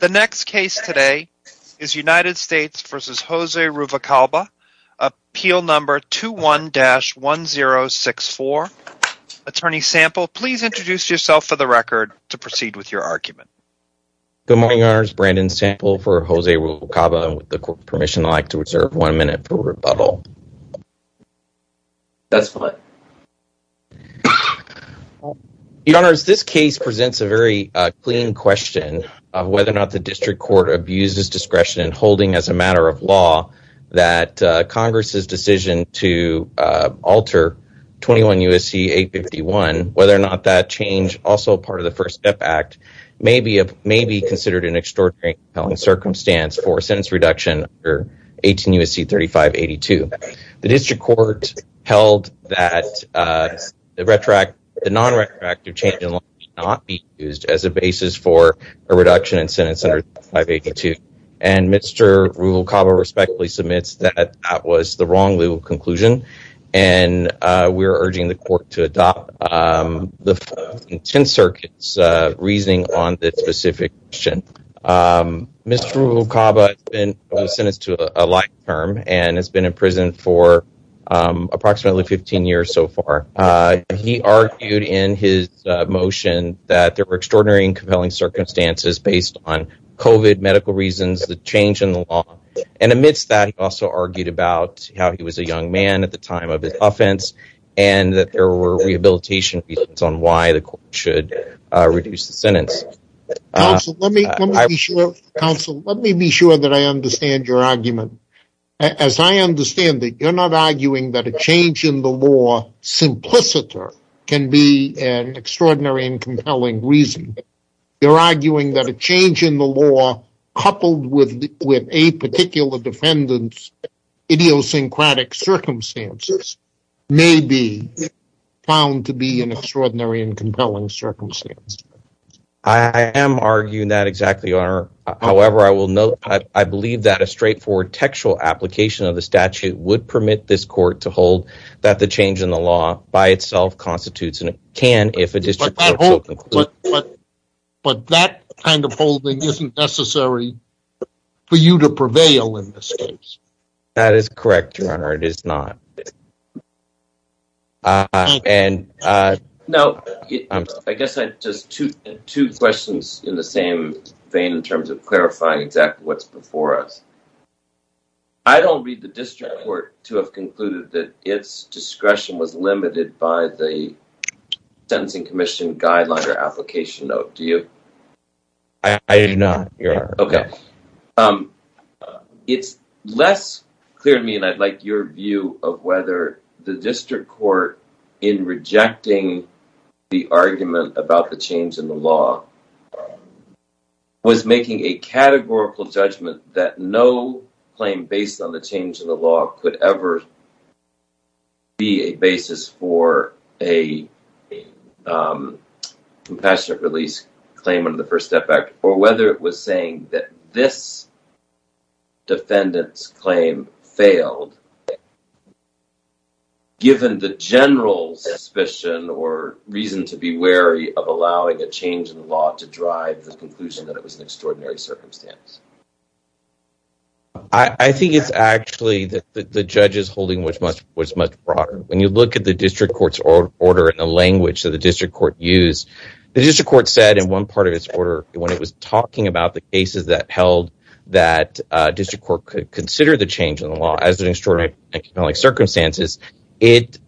The next case today is United States v. Jose Ruvalcaba, Appeal No. 21-1064. Attorney Sample, please introduce yourself for the record to proceed with your argument. Good morning, Your Honors. Brandon Sample for Jose Ruvalcaba. With the court's permission, I'd like to reserve one minute for rebuttal. That's fine. Your Honors, this case presents a very clean question of whether or not the district court abused its discretion in holding as a matter of law that Congress's decision to alter 21 U.S.C. 851, whether or not that change, also part of the First Step Act, may be considered an extraordinary and compelling circumstance for a sentence reduction under 18 U.S.C. 3582. The district court held that the non-retroactive change in law may not be used as a basis for a reduction in sentence under 3582, and Mr. Ruvalcaba respectfully submits that that was the wrong legal conclusion, and we are urging the court to adopt the Fifth and Tenth Circuit's reasoning on this specific issue. Mr. Ruvalcaba has been sentenced to a life term and has been in prison for approximately 15 years so far. He argued in his motion that there were extraordinary and compelling circumstances based on COVID, medical reasons, the change in the law, and amidst that, he also argued about how he was a young man at the time of his offense and that there were rehabilitation reasons on why the court should reduce the sentence. Counsel, let me be sure that I understand your argument. As I understand it, you're not arguing that a change in the law simpliciter can be an extraordinary and compelling reason. You're arguing that a change in the law coupled with a particular defendant's idiosyncratic circumstances may be found to be an extraordinary and compelling circumstance. I am arguing that exactly, Your Honor. However, I will note I believe that a straightforward textual application of the statute would permit this court to hold that the change in the law by itself constitutes and can, if a district court so concludes. But that kind of holding isn't necessary for you to prevail in this case. That is correct, Your Honor. It is not. Now, I guess I have two questions in the same vein in terms of clarifying exactly what's before us. I don't read the district court to have concluded that its discretion was limited by the Sentencing Commission Guideline or Application Note. Do you? I do not, Your Honor. It's less clear to me, and I'd like your view, of whether the district court in rejecting the argument about the change in the law was making a categorical judgment that no claim based on the change in the law could ever be a basis for a compassionate release claim under the First Step Act or whether it was saying that this defendant's claim failed given the general suspicion or reason to be wary of allowing a change in the law to drive the conclusion that it was an extraordinary circumstance. I think it's actually that the judge's holding was much broader. When you look at the district court's order in the language that the district court used, the district court said in one part of its order when it was talking about the cases that held that district court could consider the change in the law as an extraordinary circumstances, it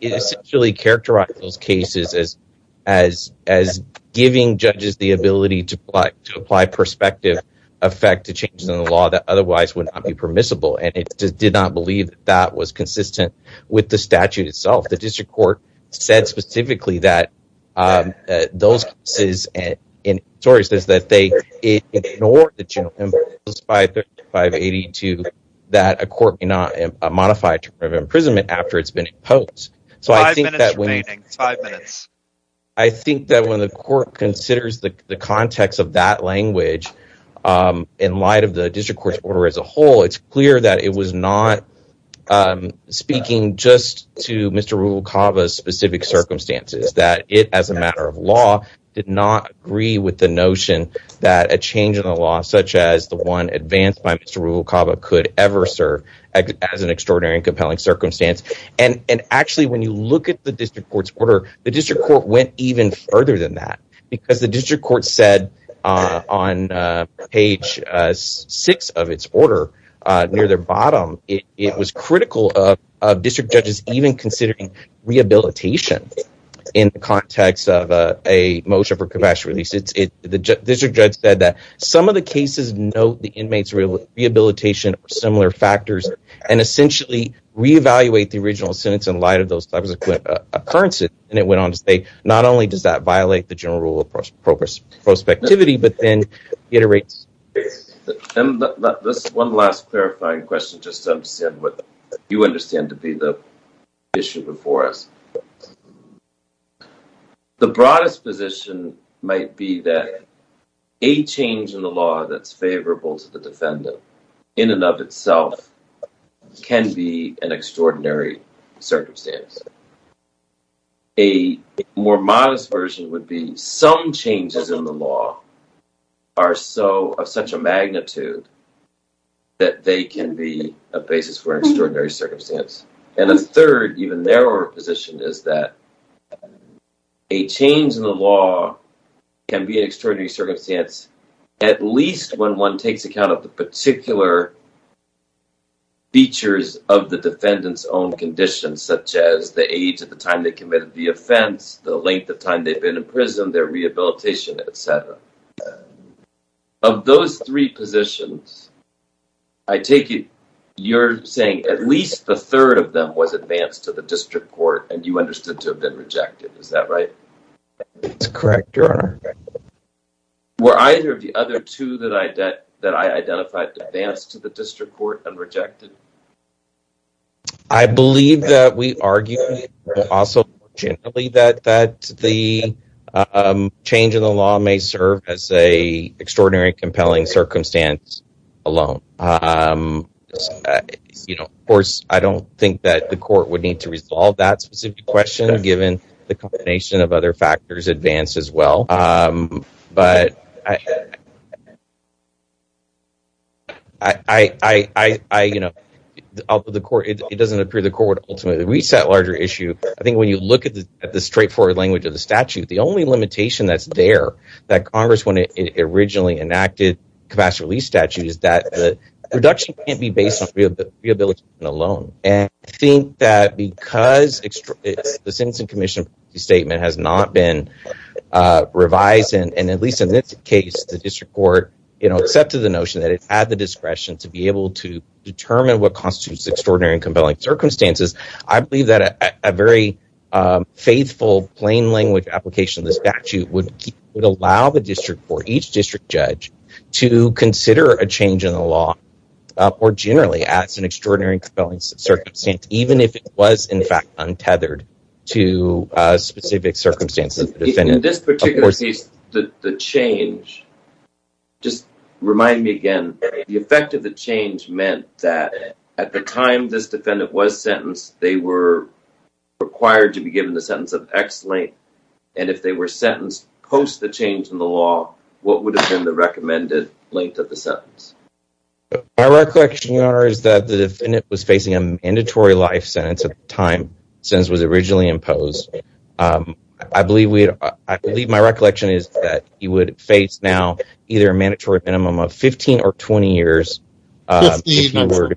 essentially characterized those cases as giving judges the ability to apply prospective effect to changes in the law that otherwise would not be permissible, and it did not believe that that was consistent with the statute itself. The district court said specifically that those cases and stories that they ignored the general principles by 3582 that a court may not modify a term of imprisonment after it's been imposed. Five minutes remaining. Five minutes. I think that when the court considers the context of that language in light of the district court's order as a whole, it's clear that it was not speaking just to Mr. Rubel-Cava's specific circumstances, that it as a matter of law did not agree with the notion that a change in the law such as the one advanced by Mr. Rubel-Cava could ever serve as an extraordinary and compelling circumstance. And actually, when you look at the district court's order, the district court went even further than that, because the district court said on page six of its order near their bottom, it was critical of district judges even considering rehabilitation in the context of a motion for professional release. The district judge said that some of the cases note the inmates' rehabilitation or similar factors and essentially re-evaluate the original sentence in light of those subsequent occurrences. And it went on to say, not only does that violate the general rule of prospectivity, but then iterates. This is one last clarifying question just to understand what you understand to be the issue before us. The broadest position might be that a change in the law that's favorable to the defendant in and of itself can be an extraordinary circumstance. A more modest version would be some changes in the law are of such a magnitude that they can be a basis for an extraordinary circumstance. And a third, even narrower position, is that a change in the law can be an extraordinary circumstance at least when one takes account of the particular features of the defendant's own conditions, such as the age at the time they committed the offense, the length of time they've been in prison, their rehabilitation, etc. Of those three positions, I take it you're saying at least the third of them was advanced to the district court and you understood to have been rejected, is that right? That's correct, Your Honor. Were either of the other two that I identified advanced to the district court and rejected? I believe that we argue also generally that the change in the law may serve as an extraordinary and compelling circumstance alone. Of course, I don't think that the court would need to resolve that specific question given the combination of other factors advanced as well. But, you know, it doesn't appear the court would ultimately reach that larger issue. I think when you look at the straightforward language of the statute, the only limitation that's there that Congress, when it originally enacted capacitive release statute, is that the reduction can't be based on rehabilitation alone. And I think that because the Sentencing Commission statement has not been revised, and at least in this case, the district court, you know, accepted the notion that it had the discretion to be able to determine what constitutes extraordinary and compelling circumstances. I believe that a very faithful, plain language application of the statute would allow the district court, to consider a change in the law more generally as an extraordinary and compelling circumstance, even if it was, in fact, untethered to specific circumstances. In this particular case, the change, just remind me again, the effect of the change meant that at the time this defendant was sentenced, they were required to be given the sentence of ex-link. And if they were sentenced post the change in the law, what would have been the recommended length of the sentence? My recollection, Your Honor, is that the defendant was facing a mandatory life sentence at the time the sentence was originally imposed. I believe my recollection is that he would face now either a mandatory minimum of 15 or 20 years. Mandatory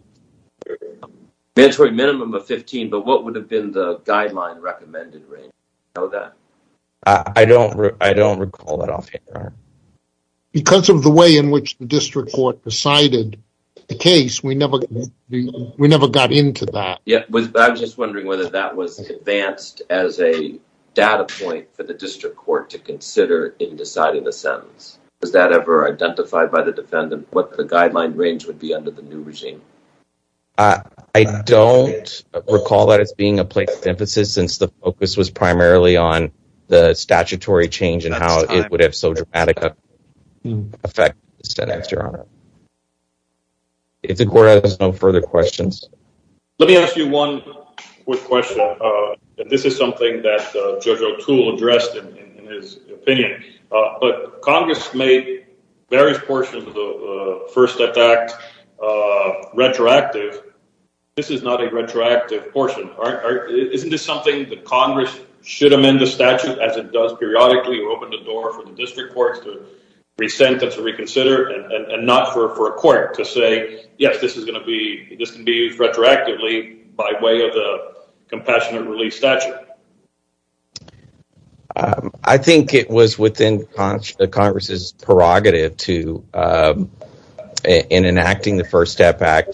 minimum of 15, but what would have been the guideline recommended range? I don't recall that offhand, Your Honor. Because of the way in which the district court decided the case, we never got into that. Yeah, I was just wondering whether that was advanced as a data point for the district court to consider in deciding the sentence. Was that ever identified by the defendant? What the guideline range would be under the new regime? I don't recall that as being a place of emphasis since the focus was primarily on the statutory change and how it would have so dramatic an effect on the sentence, Your Honor. If the court has no further questions. Let me ask you one quick question. This is something that Judge O'Toole addressed in his opinion. Congress made various portions of the First Attack Act retroactive. This is not a retroactive portion. Isn't this something that Congress should amend the statute as it does periodically or open the door for the district courts to re-sentence or reconsider and not for a court to say, yes, this is going to be used retroactively by way of the compassionate release statute? I think it was within Congress's prerogative in enacting the First Step Act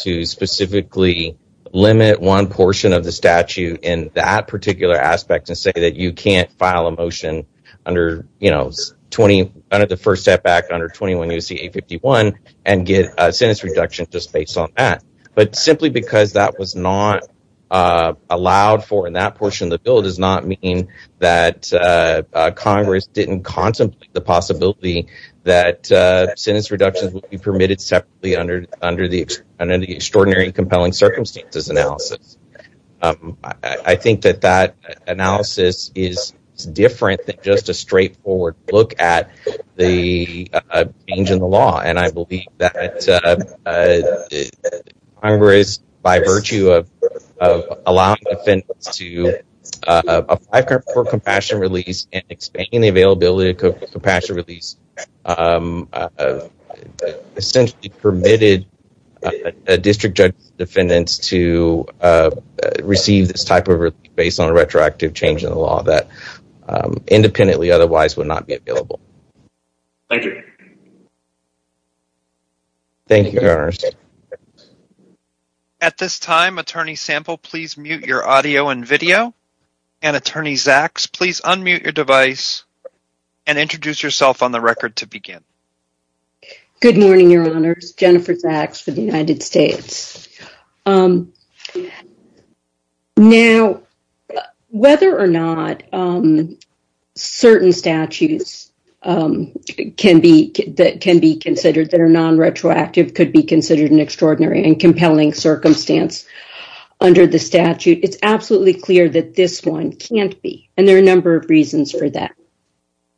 to specifically limit one portion of the statute in that particular aspect and say that you can't file a motion under the First Step Act under 21 U.S.C. 851 and get a sentence reduction just based on that. But simply because that was not allowed for in that portion of the bill does not mean that Congress didn't contemplate the possibility that sentence reductions would be permitted separately under the Extraordinary and Compelling Circumstances Analysis. I think that that analysis is different than just a straightforward look at the change in the law. And I believe that Congress, by virtue of allowing defendants to apply for compassionate release and expanding the availability of compassionate release, essentially permitted a district judge's defendants to receive this type of relief based on a retroactive change in the law that independently otherwise would not be available. Thank you. Thank you, Your Honors. At this time, Attorney Sample, please mute your audio and video. And Attorney Zaks, please unmute your device and introduce yourself on the record to begin. Good morning, Your Honors. Jennifer Zaks for the United States. Now, whether or not certain statutes can be considered that are non-retroactive could be considered an extraordinary and compelling circumstance under the statute, it's absolutely clear that this one can't be. And there are a number of reasons for that.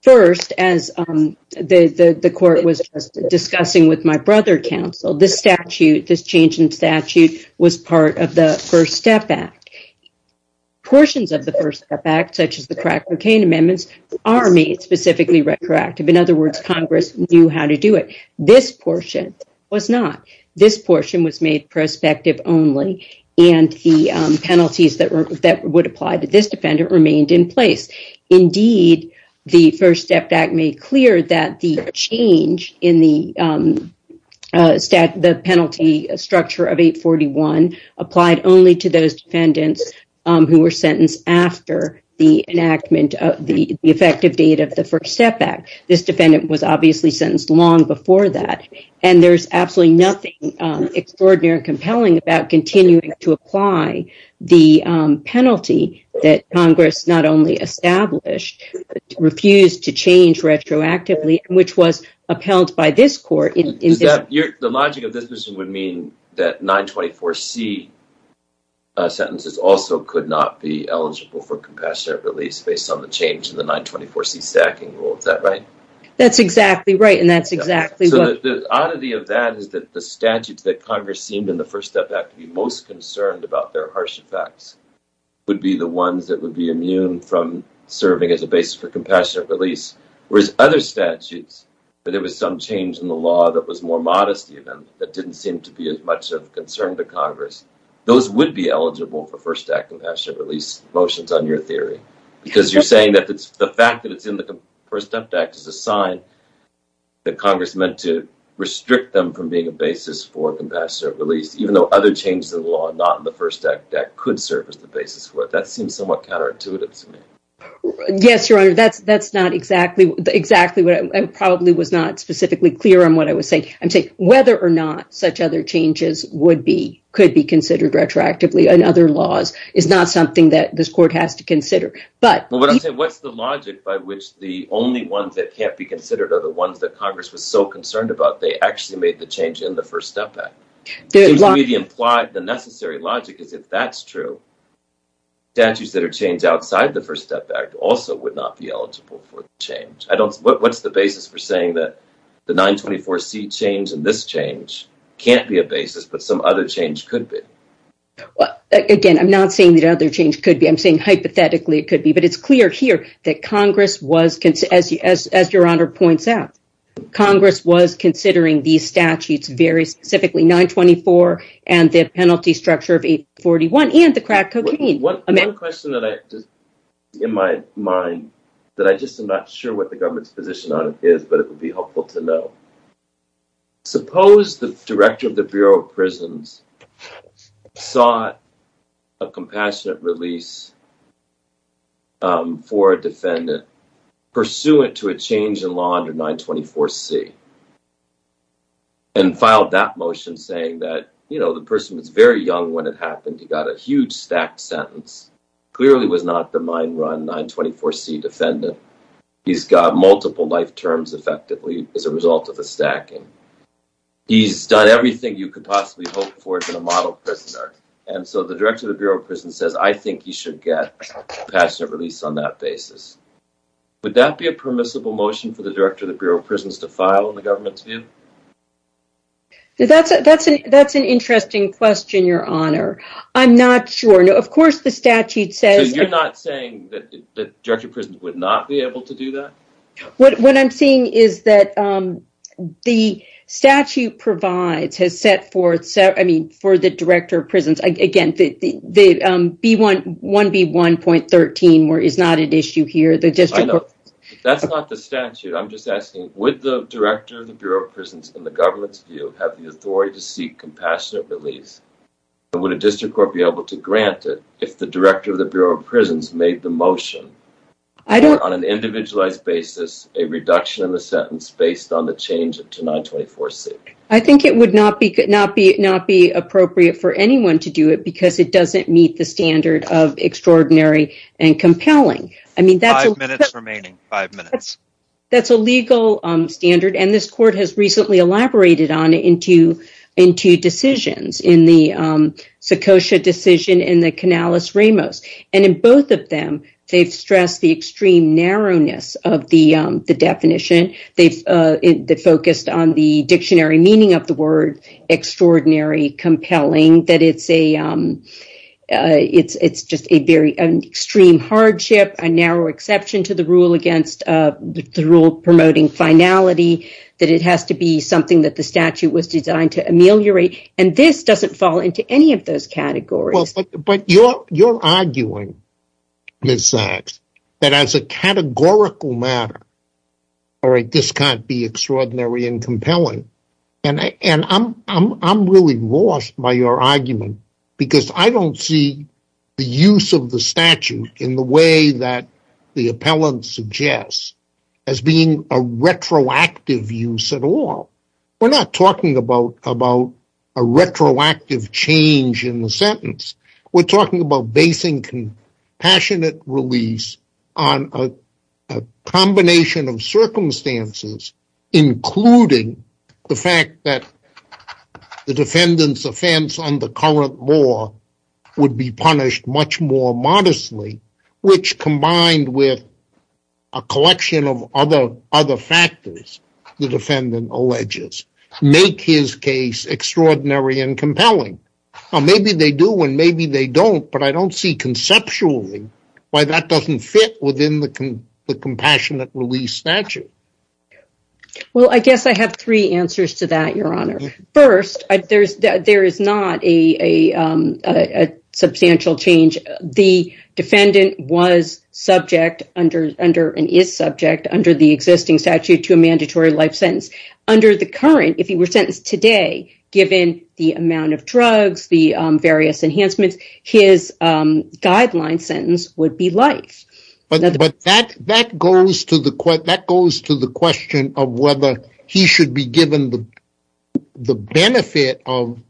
First, as the court was discussing with my brother counsel, this statute, this change in statute, was part of the First Step Act. Portions of the First Step Act, such as the crack cocaine amendments, are made specifically retroactive. In other words, Congress knew how to do it. This portion was not. This portion was made prospective only, and the penalties that would apply to this defendant remained in place. Indeed, the First Step Act made clear that the change in the penalty structure of 841 applied only to those defendants who were sentenced after the enactment of the effective date of the First Step Act. This defendant was obviously sentenced long before that. And there's absolutely nothing extraordinary or compelling about continuing to apply the penalty that Congress not only established, but refused to change retroactively, which was upheld by this court. The logic of this would mean that 924C sentences also could not be eligible for compassionate release based on the change in the 924C stacking rule. Is that right? That's exactly right, and that's exactly what… The oddity of that is that the statutes that Congress seemed in the First Step Act to be most concerned about their harsh effects would be the ones that would be immune from serving as a basis for compassionate release. Whereas other statutes, where there was some change in the law that was more modest even, that didn't seem to be as much of a concern to Congress, those would be eligible for First Act compassionate release motions on your theory. Because you're saying that the fact that it's in the First Step Act is a sign that Congress meant to restrict them from being a basis for compassionate release, even though other changes in the law not in the First Act could serve as the basis for it. That seems somewhat counterintuitive to me. Yes, Your Honor, that's not exactly what I'm saying. I probably was not specifically clear on what I was saying. I'm saying whether or not such other changes could be considered retroactively in other laws is not something that this court has to consider. What I'm saying is what's the logic by which the only ones that can't be considered are the ones that Congress was so concerned about they actually made the change in the First Step Act? It seems to me the implied, the necessary logic is if that's true, statutes that are changed outside the First Step Act also would not be eligible for the change. What's the basis for saying that the 924C change and this change can't be a basis, but some other change could be? Again, I'm not saying that other change could be. I'm saying hypothetically it could be, but it's clear here that Congress was, as Your Honor points out, Congress was considering these statutes very specifically, 924 and the penalty structure of 841 and the crack cocaine. One question in my mind that I just am not sure what the government's position on it is, but it would be helpful to know. Suppose the director of the Bureau of Prisons sought a compassionate release for a defendant pursuant to a change in law under 924C and filed that motion saying that, you know, the person was very young when it happened. He got a huge stacked sentence, clearly was not the mind-run 924C defendant. He's got multiple life terms effectively as a result of the stacking. He's done everything you could possibly hope for in a model prisoner, and so the director of the Bureau of Prisons says, I think he should get a compassionate release on that basis. Would that be a permissible motion for the director of the Bureau of Prisons to file in the government's view? That's an interesting question, Your Honor. I'm not sure. Of course, the statute says... So you're not saying that the director of prisons would not be able to do that? What I'm saying is that the statute provides, has set forth, I mean, for the director of prisons, again, the 1B1.13 is not an issue here. That's not the statute. I'm just asking, would the director of the Bureau of Prisons in the government's view have the authority to seek compassionate release? Would a district court be able to grant it if the director of the Bureau of Prisons made the motion on an individualized basis, a reduction in the sentence based on the change to 924C? I think it would not be appropriate for anyone to do it because it doesn't meet the standard of extraordinary and compelling. Five minutes remaining. Five minutes. extraordinary, compelling, that it's just an extreme hardship, a narrow exception to the rule against the rule promoting finality, that it has to be something that the statute was designed to ameliorate, and this doesn't fall into any of those categories. But you're arguing, Ms. Sachs, that as a categorical matter, this can't be extraordinary and compelling. And I'm really lost by your argument, because I don't see the use of the statute in the way that the appellant suggests as being a retroactive use at all. We're not talking about a retroactive change in the sentence. We're talking about basing compassionate release on a combination of circumstances, including the fact that the defendant's offense on the current law would be punished much more modestly, which combined with a collection of other factors, the defendant alleges, make his case extraordinary and compelling. Maybe they do, and maybe they don't, but I don't see conceptually why that doesn't fit within the compassionate release statute. Well, I guess I have three answers to that, Your Honor. First, there is not a substantial change. The defendant was subject and is subject under the existing statute to a mandatory life sentence. Under the current, if he were sentenced today, given the amount of drugs, the various enhancements, his guideline sentence would be life. But that goes to the question of whether he should be given the benefit of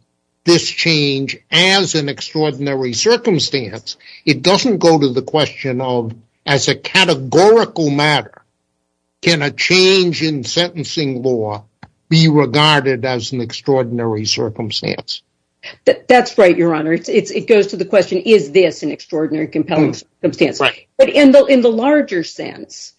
this change as an extraordinary circumstance. It doesn't go to the question of, as a categorical matter, can a change in sentencing law be regarded as an extraordinary circumstance? That's right, Your Honor. It goes to the question, is this an extraordinary and compelling circumstance? In the larger sense,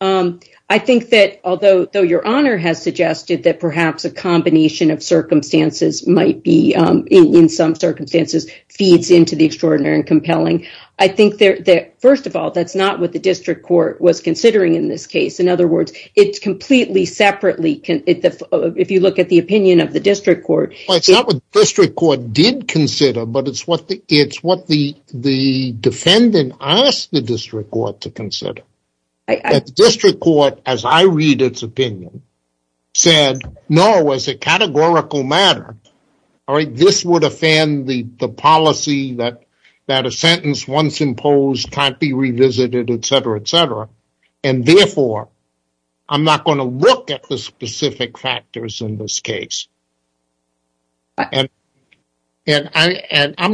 I think that although Your Honor has suggested that perhaps a combination of circumstances might be, in some circumstances, feeds into the extraordinary and compelling, I think that, first of all, that's not what the district court was considering in this case. In other words, it's completely separately, if you look at the opinion of the district court. It's not what the district court did consider, but it's what the defendant asked the district court to consider. The district court, as I read its opinion, said, no, as a categorical matter, this would offend the policy that a sentence once imposed can't be revisited, etc., etc. Therefore, I'm not going to look at the specific factors in this case. I'm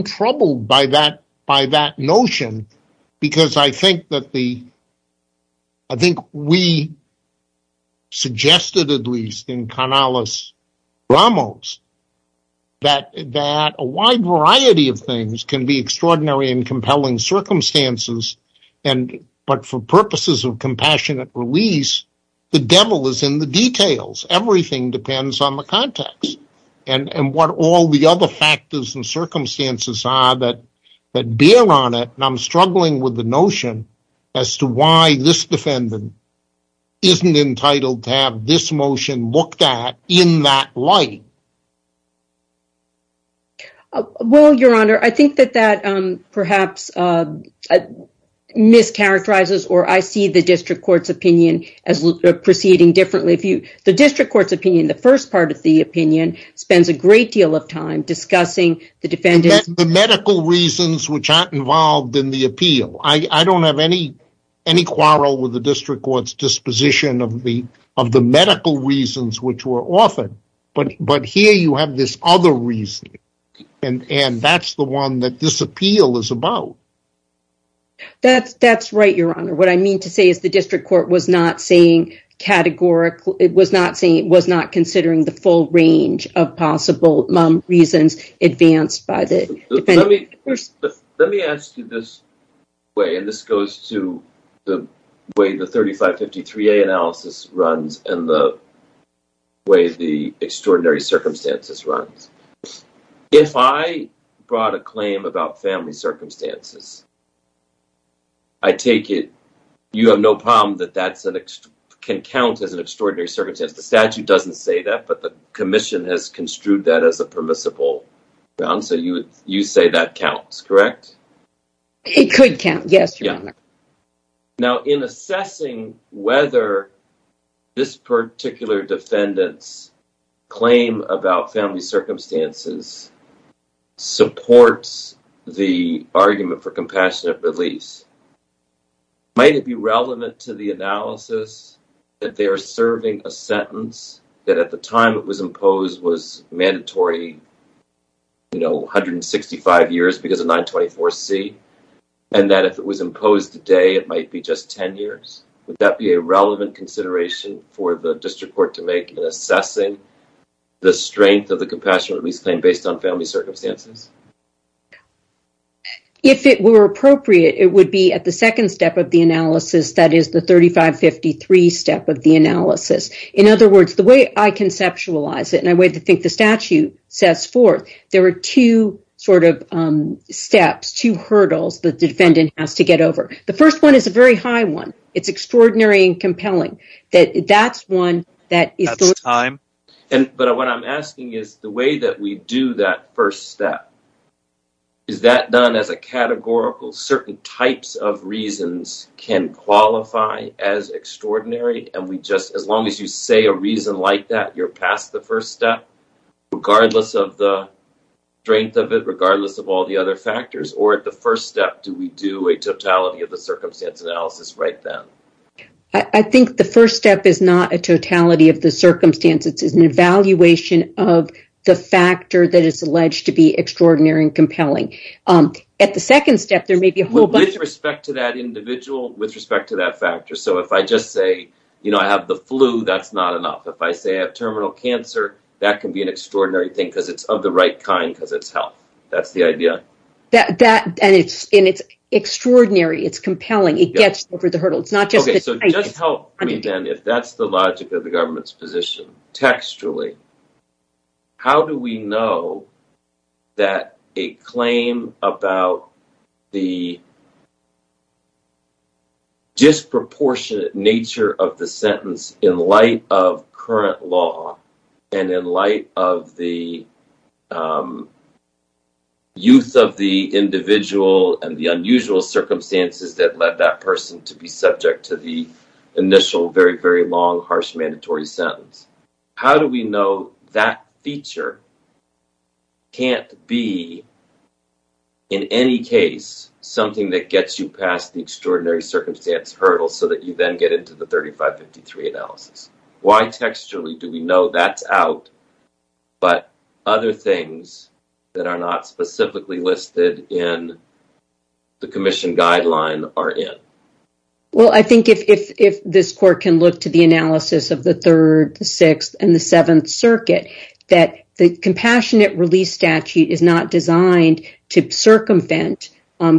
troubled by that notion because I think we suggested, at least in Canales-Ramos, that a wide variety of things can be extraordinary and compelling circumstances, but for purposes of compassionate release, the devil is in the details. Everything depends on the context and what all the other factors and circumstances are that bear on it. I'm struggling with the notion as to why this defendant isn't entitled to have this motion looked at in that light. Well, Your Honor, I think that that perhaps mischaracterizes or I see the district court's opinion as proceeding differently. The district court's opinion, the first part of the opinion, spends a great deal of time discussing the defendant's… The medical reasons which aren't involved in the appeal. I don't have any quarrel with the district court's disposition of the medical reasons which were offered, but here you have this other reason, and that's the one that this appeal is about. That's right, Your Honor. What I mean to say is the district court was not saying categorically… It was not considering the full range of possible reasons advanced by the defendant. Let me ask you this way, and this goes to the way the 3553A analysis runs and the way the extraordinary circumstances runs. If I brought a claim about family circumstances, I take it you have no problem that that can count as an extraordinary circumstance. The statute doesn't say that, but the commission has construed that as a permissible grounds, so you say that counts, correct? It could count, yes, Your Honor. Now, in assessing whether this particular defendant's claim about family circumstances supports the argument for compassionate release, might it be relevant to the analysis that they are serving a sentence that at the time it was imposed was mandatory, you know, 165 years because of 924C, and that if it was imposed today, it might be just 10 years. Would that be a relevant consideration for the district court to make in assessing the strength of the compassionate release claim based on family circumstances? If it were appropriate, it would be at the second step of the analysis, that is, the 3553 step of the analysis. In other words, the way I conceptualize it, and the way I think the statute sets forth, there are two sort of steps, two hurdles that the defendant has to get over. The first one is a very high one. It's extraordinary and compelling. That's time. But what I'm asking is the way that we do that first step, is that done as a categorical, certain types of reasons can qualify as extraordinary? And we just, as long as you say a reason like that, you're past the first step, regardless of the strength of it, regardless of all the other factors? Or at the first step, do we do a totality of the circumstance analysis right then? I think the first step is not a totality of the circumstances. It's an evaluation of the factor that is alleged to be extraordinary and compelling. At the second step, there may be a whole bunch of… So if I just say, you know, I have the flu, that's not enough. If I say I have terminal cancer, that can be an extraordinary thing because it's of the right kind because it's health. That's the idea. And it's extraordinary, it's compelling, it gets over the hurdle. Just help me then, if that's the logic of the government's position. Textually, how do we know that a claim about the disproportionate nature of the sentence in light of current law and in light of the youth of the individual and the unusual circumstances that led that person to be subject to the initial very, very long, harsh, mandatory sentence? How do we know that feature can't be, in any case, something that gets you past the extraordinary circumstance hurdle so that you then get into the 3553 analysis? Why textually do we know that's out, but other things that are not specifically listed in the commission guideline are in? Well, I think if this court can look to the analysis of the Third, the Sixth, and the Seventh Circuit, that the compassionate release statute is not designed to circumvent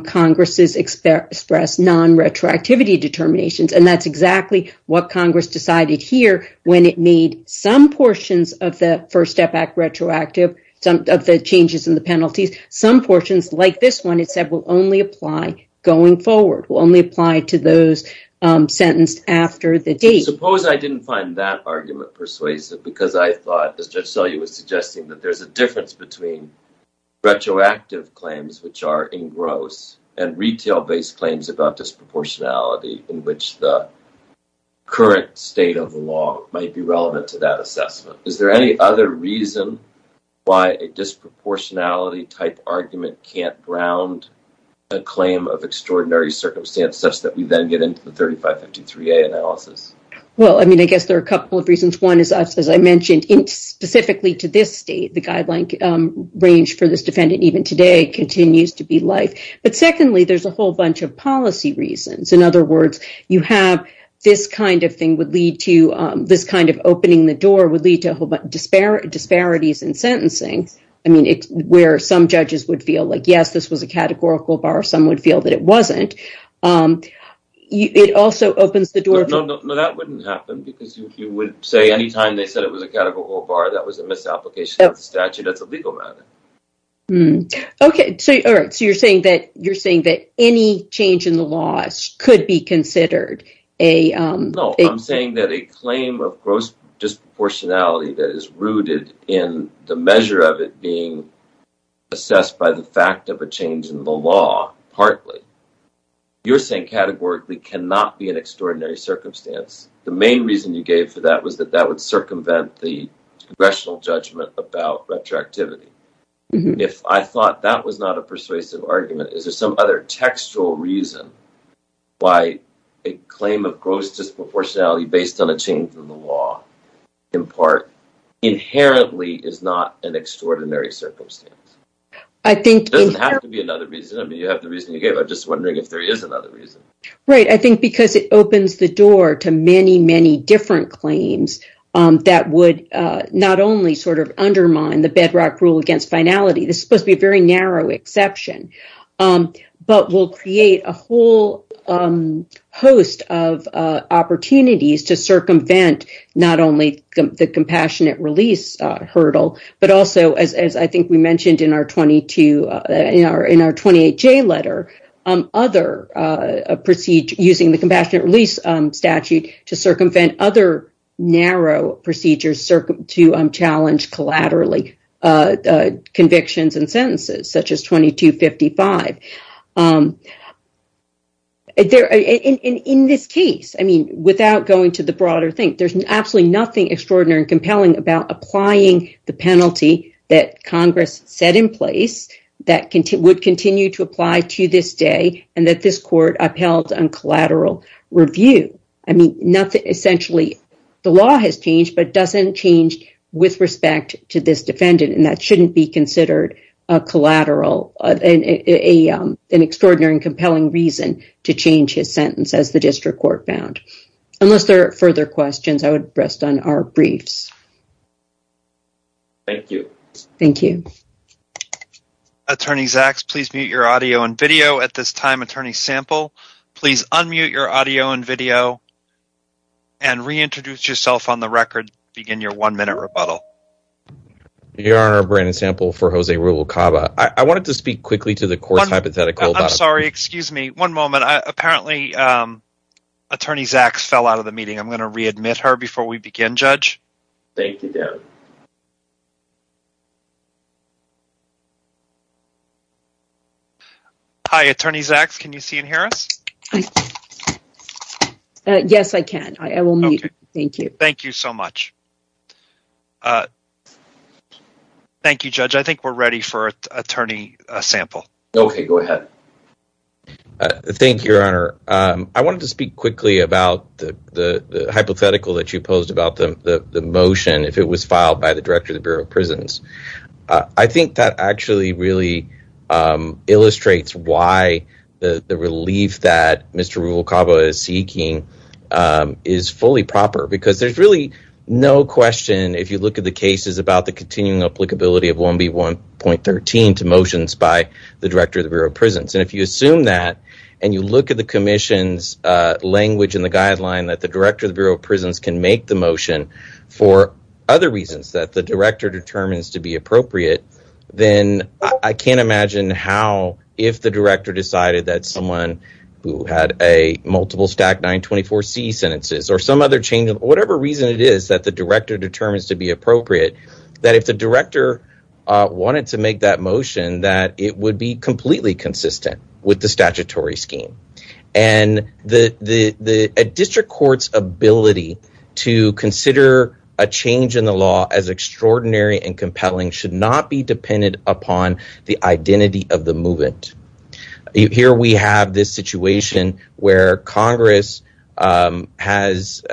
Congress's expressed non-retroactivity determinations. And that's exactly what Congress decided here when it made some portions of the First Step Act retroactive, some of the changes in the penalties, some portions like this one, it said, will only apply going forward, will only apply to those sentenced after the date. Suppose I didn't find that argument persuasive because I thought, as Judge Selye was suggesting, that there's a difference between retroactive claims, which are engrossed, and retail-based claims about disproportionality in which the current state of the law might be relevant to that assessment. Is there any other reason why a disproportionality-type argument can't ground a claim of extraordinary circumstance such that we then get into the 3553A analysis? Well, I mean, I guess there are a couple of reasons. One is, as I mentioned, specifically to this state, the guideline range for this defendant even today continues to be life. But secondly, there's a whole bunch of policy reasons. In other words, you have this kind of thing would lead to this kind of opening the door would lead to disparities in sentencing. I mean, it's where some judges would feel like, yes, this was a categorical bar. Some would feel that it wasn't. It also opens the door. No, no, no, that wouldn't happen because you would say any time they said it was a categorical bar, that was a misapplication of the statute. That's a legal matter. OK, so you're saying that you're saying that any change in the laws could be considered a... No, I'm saying that a claim of gross disproportionality that is rooted in the measure of it being assessed by the fact of a change in the law, partly. You're saying categorically cannot be an extraordinary circumstance. The main reason you gave for that was that that would circumvent the congressional judgment about retroactivity. If I thought that was not a persuasive argument, is there some other textual reason why a claim of gross disproportionality based on a change in the law, in part, inherently is not an extraordinary circumstance? It doesn't have to be another reason. I mean, you have the reason you gave. I'm just wondering if there is another reason. Right. I think because it opens the door to many, many different claims that would not only sort of undermine the bedrock rule against finality. This is supposed to be a very narrow exception, but will create a whole host of opportunities to circumvent not only the compassionate release hurdle, but also, as I think we mentioned in our 28J letter, using the compassionate release statute to circumvent other narrow procedures to challenge collaterally convictions and sentences, such as 2255. In this case, I mean, without going to the broader thing, there's absolutely nothing extraordinary and compelling about applying the penalty that Congress set in place that would continue to apply to this day and that this court upheld on collateral review. I mean, essentially, the law has changed, but doesn't change with respect to this defendant, and that shouldn't be considered a collateral, an extraordinary and compelling reason to change his sentence, as the district court found. Unless there are further questions, I would rest on our briefs. Thank you. Thank you. Attorney Zaks, please mute your audio and video at this time. Attorney Sample, please unmute your audio and video and reintroduce yourself on the record. Begin your one minute rebuttal. Your Honor, Brandon Sample for Jose Rubalcaba. I wanted to speak quickly to the court's hypothetical. I'm sorry. Excuse me. One moment. Apparently, Attorney Zaks fell out of the meeting. I'm going to readmit her before we begin, Judge. Thank you, Deb. Hi, Attorney Zaks. Can you see and hear us? Yes, I can. I will mute. Thank you. Thank you so much. Thank you, Judge. I think we're ready for Attorney Sample. Okay. Go ahead. Thank you, Your Honor. I wanted to speak quickly about the hypothetical that you posed about the motion, if it was filed by the Director of the Bureau of Prisons. I think that actually really illustrates why the relief that Mr. Rubalcaba is seeking is fully proper. Because there's really no question, if you look at the cases, about the continuing applicability of 1B1.13 to motions by the Director of the Bureau of Prisons. Then I can't imagine how, if the Director decided that someone who had a multiple stack 924C sentences or some other change, whatever reason it is that the Director determines to be appropriate. That if the Director wanted to make that motion, that it would be completely consistent with the statutory scheme. A district court's ability to consider a change in the law as extraordinary and compelling should not be dependent upon the identity of the movement. Here we have this situation where Congress has,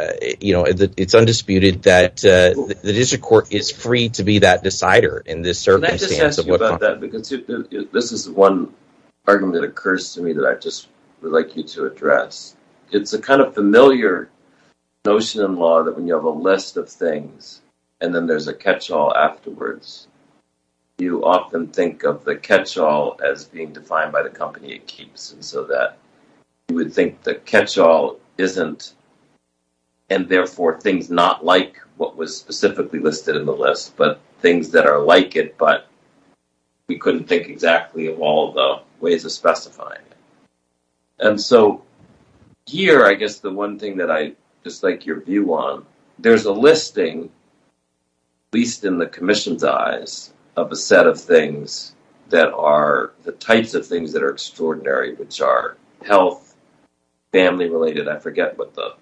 you know, it's undisputed that the district court is free to be that decider in this circumstance. This is one argument that occurs to me that I just would like you to address. It's a kind of familiar notion in law that when you have a list of things and then there's a catch-all afterwards, you often think of the catch-all as being defined by the company it keeps. You would think the catch-all isn't, and therefore things not like what was specifically listed in the list, but things that are like it, but we couldn't think exactly of all the ways of specifying it. Here, I guess the one thing that I just like your view on, there's a listing, at least in the Commission's eyes, of a set of things that are the types of things that are extraordinary, which are health, family-related, I forget what the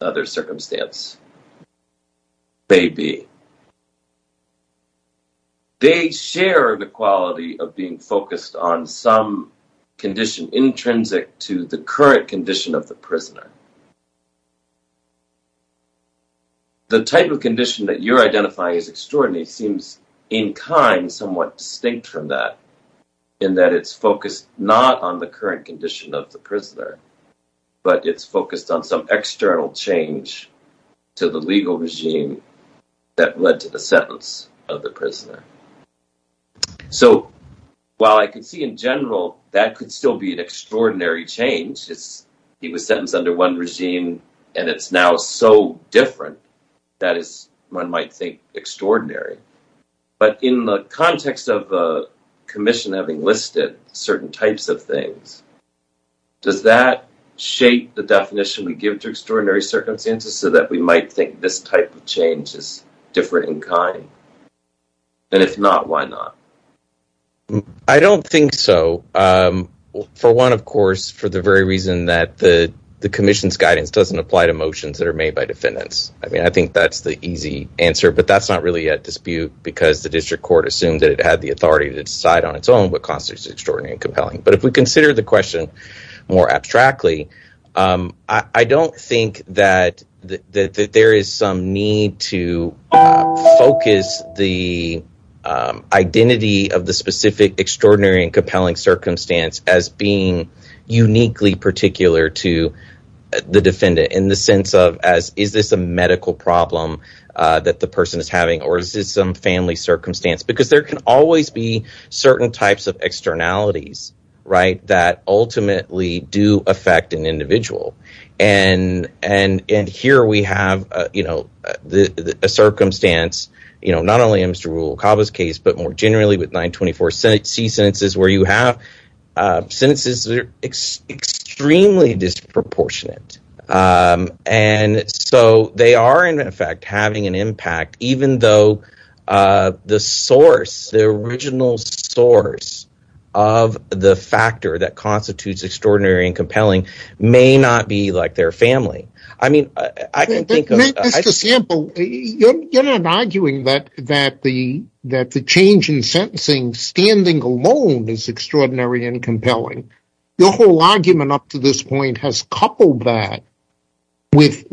other circumstance may be. They share the quality of being focused on some condition intrinsic to the current condition of the prisoner. The type of condition that you're identifying as extraordinary seems in kind somewhat distinct from that, in that it's focused not on the current condition of the prisoner, but it's focused on some external change to the legal regime that led to the sentence of the prisoner. So, while I could see in general that could still be an extraordinary change, he was sentenced under one regime and it's now so different, that is, one might think, extraordinary, but in the context of the Commission having listed certain types of things, does that shape the definition we give to extraordinary circumstances so that we might think this type of change is different in kind? And if not, why not? identity of the specific extraordinary and compelling circumstance as being uniquely particular to the defendant, in the sense of, is this a medical problem that the person is having, or is this some family circumstance? Because there can always be certain types of externalities, right, that ultimately do affect an individual. And here we have, you know, a circumstance, you know, not only in Mr. Okaba's case, but more generally with 924 C sentences where you have sentences that are extremely disproportionate. And so they are in effect having an impact, even though the source, the original source of the factor that constitutes extraordinary and compelling may not be like their family. Mr. Sample, you're not arguing that the change in sentencing standing alone is extraordinary and compelling. Your whole argument up to this point has coupled that with,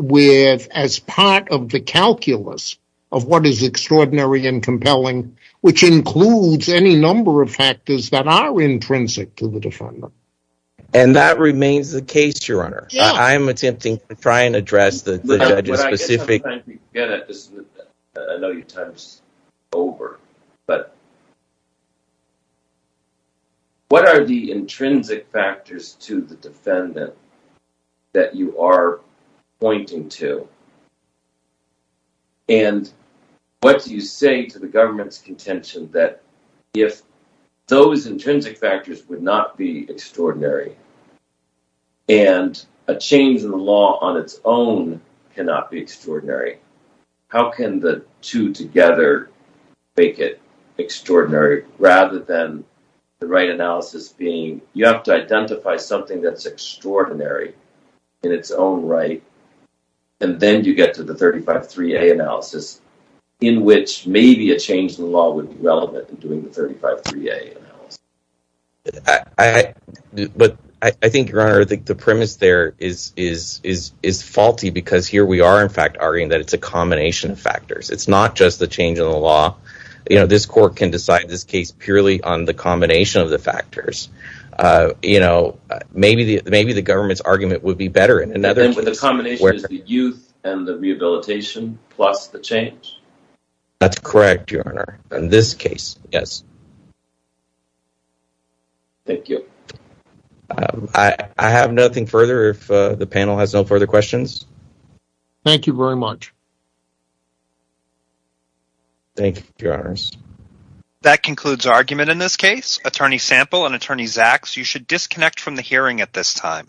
as part of the calculus of what is extraordinary and compelling, which includes any number of factors that are intrinsic to the defendant. And that remains the case, Your Honor. I am attempting to try and address the judge's specific... I know your time is over, but what are the intrinsic factors to the defendant that you are pointing to? And what do you say to the government's contention that if those intrinsic factors would not be extraordinary and a change in the law on its own cannot be extraordinary, how can the two together make it extraordinary rather than the right analysis being you have to identify something that's extraordinary in its own right. And then you get to the 35-3A analysis in which maybe a change in the law would be relevant in doing the 35-3A analysis. But I think, Your Honor, the premise there is faulty because here we are in fact arguing that it's a combination of factors. It's not just the change in the law. This court can decide this case purely on the combination of the factors. Maybe the government's argument would be better in another case. The combination is the youth and the rehabilitation plus the change? That's correct, Your Honor. In this case, yes. Thank you. I have nothing further if the panel has no further questions. Thank you very much. Thank you, Your Honors. That concludes argument in this case. Attorney Sample and Attorney Zaks, you should disconnect from the hearing at this time.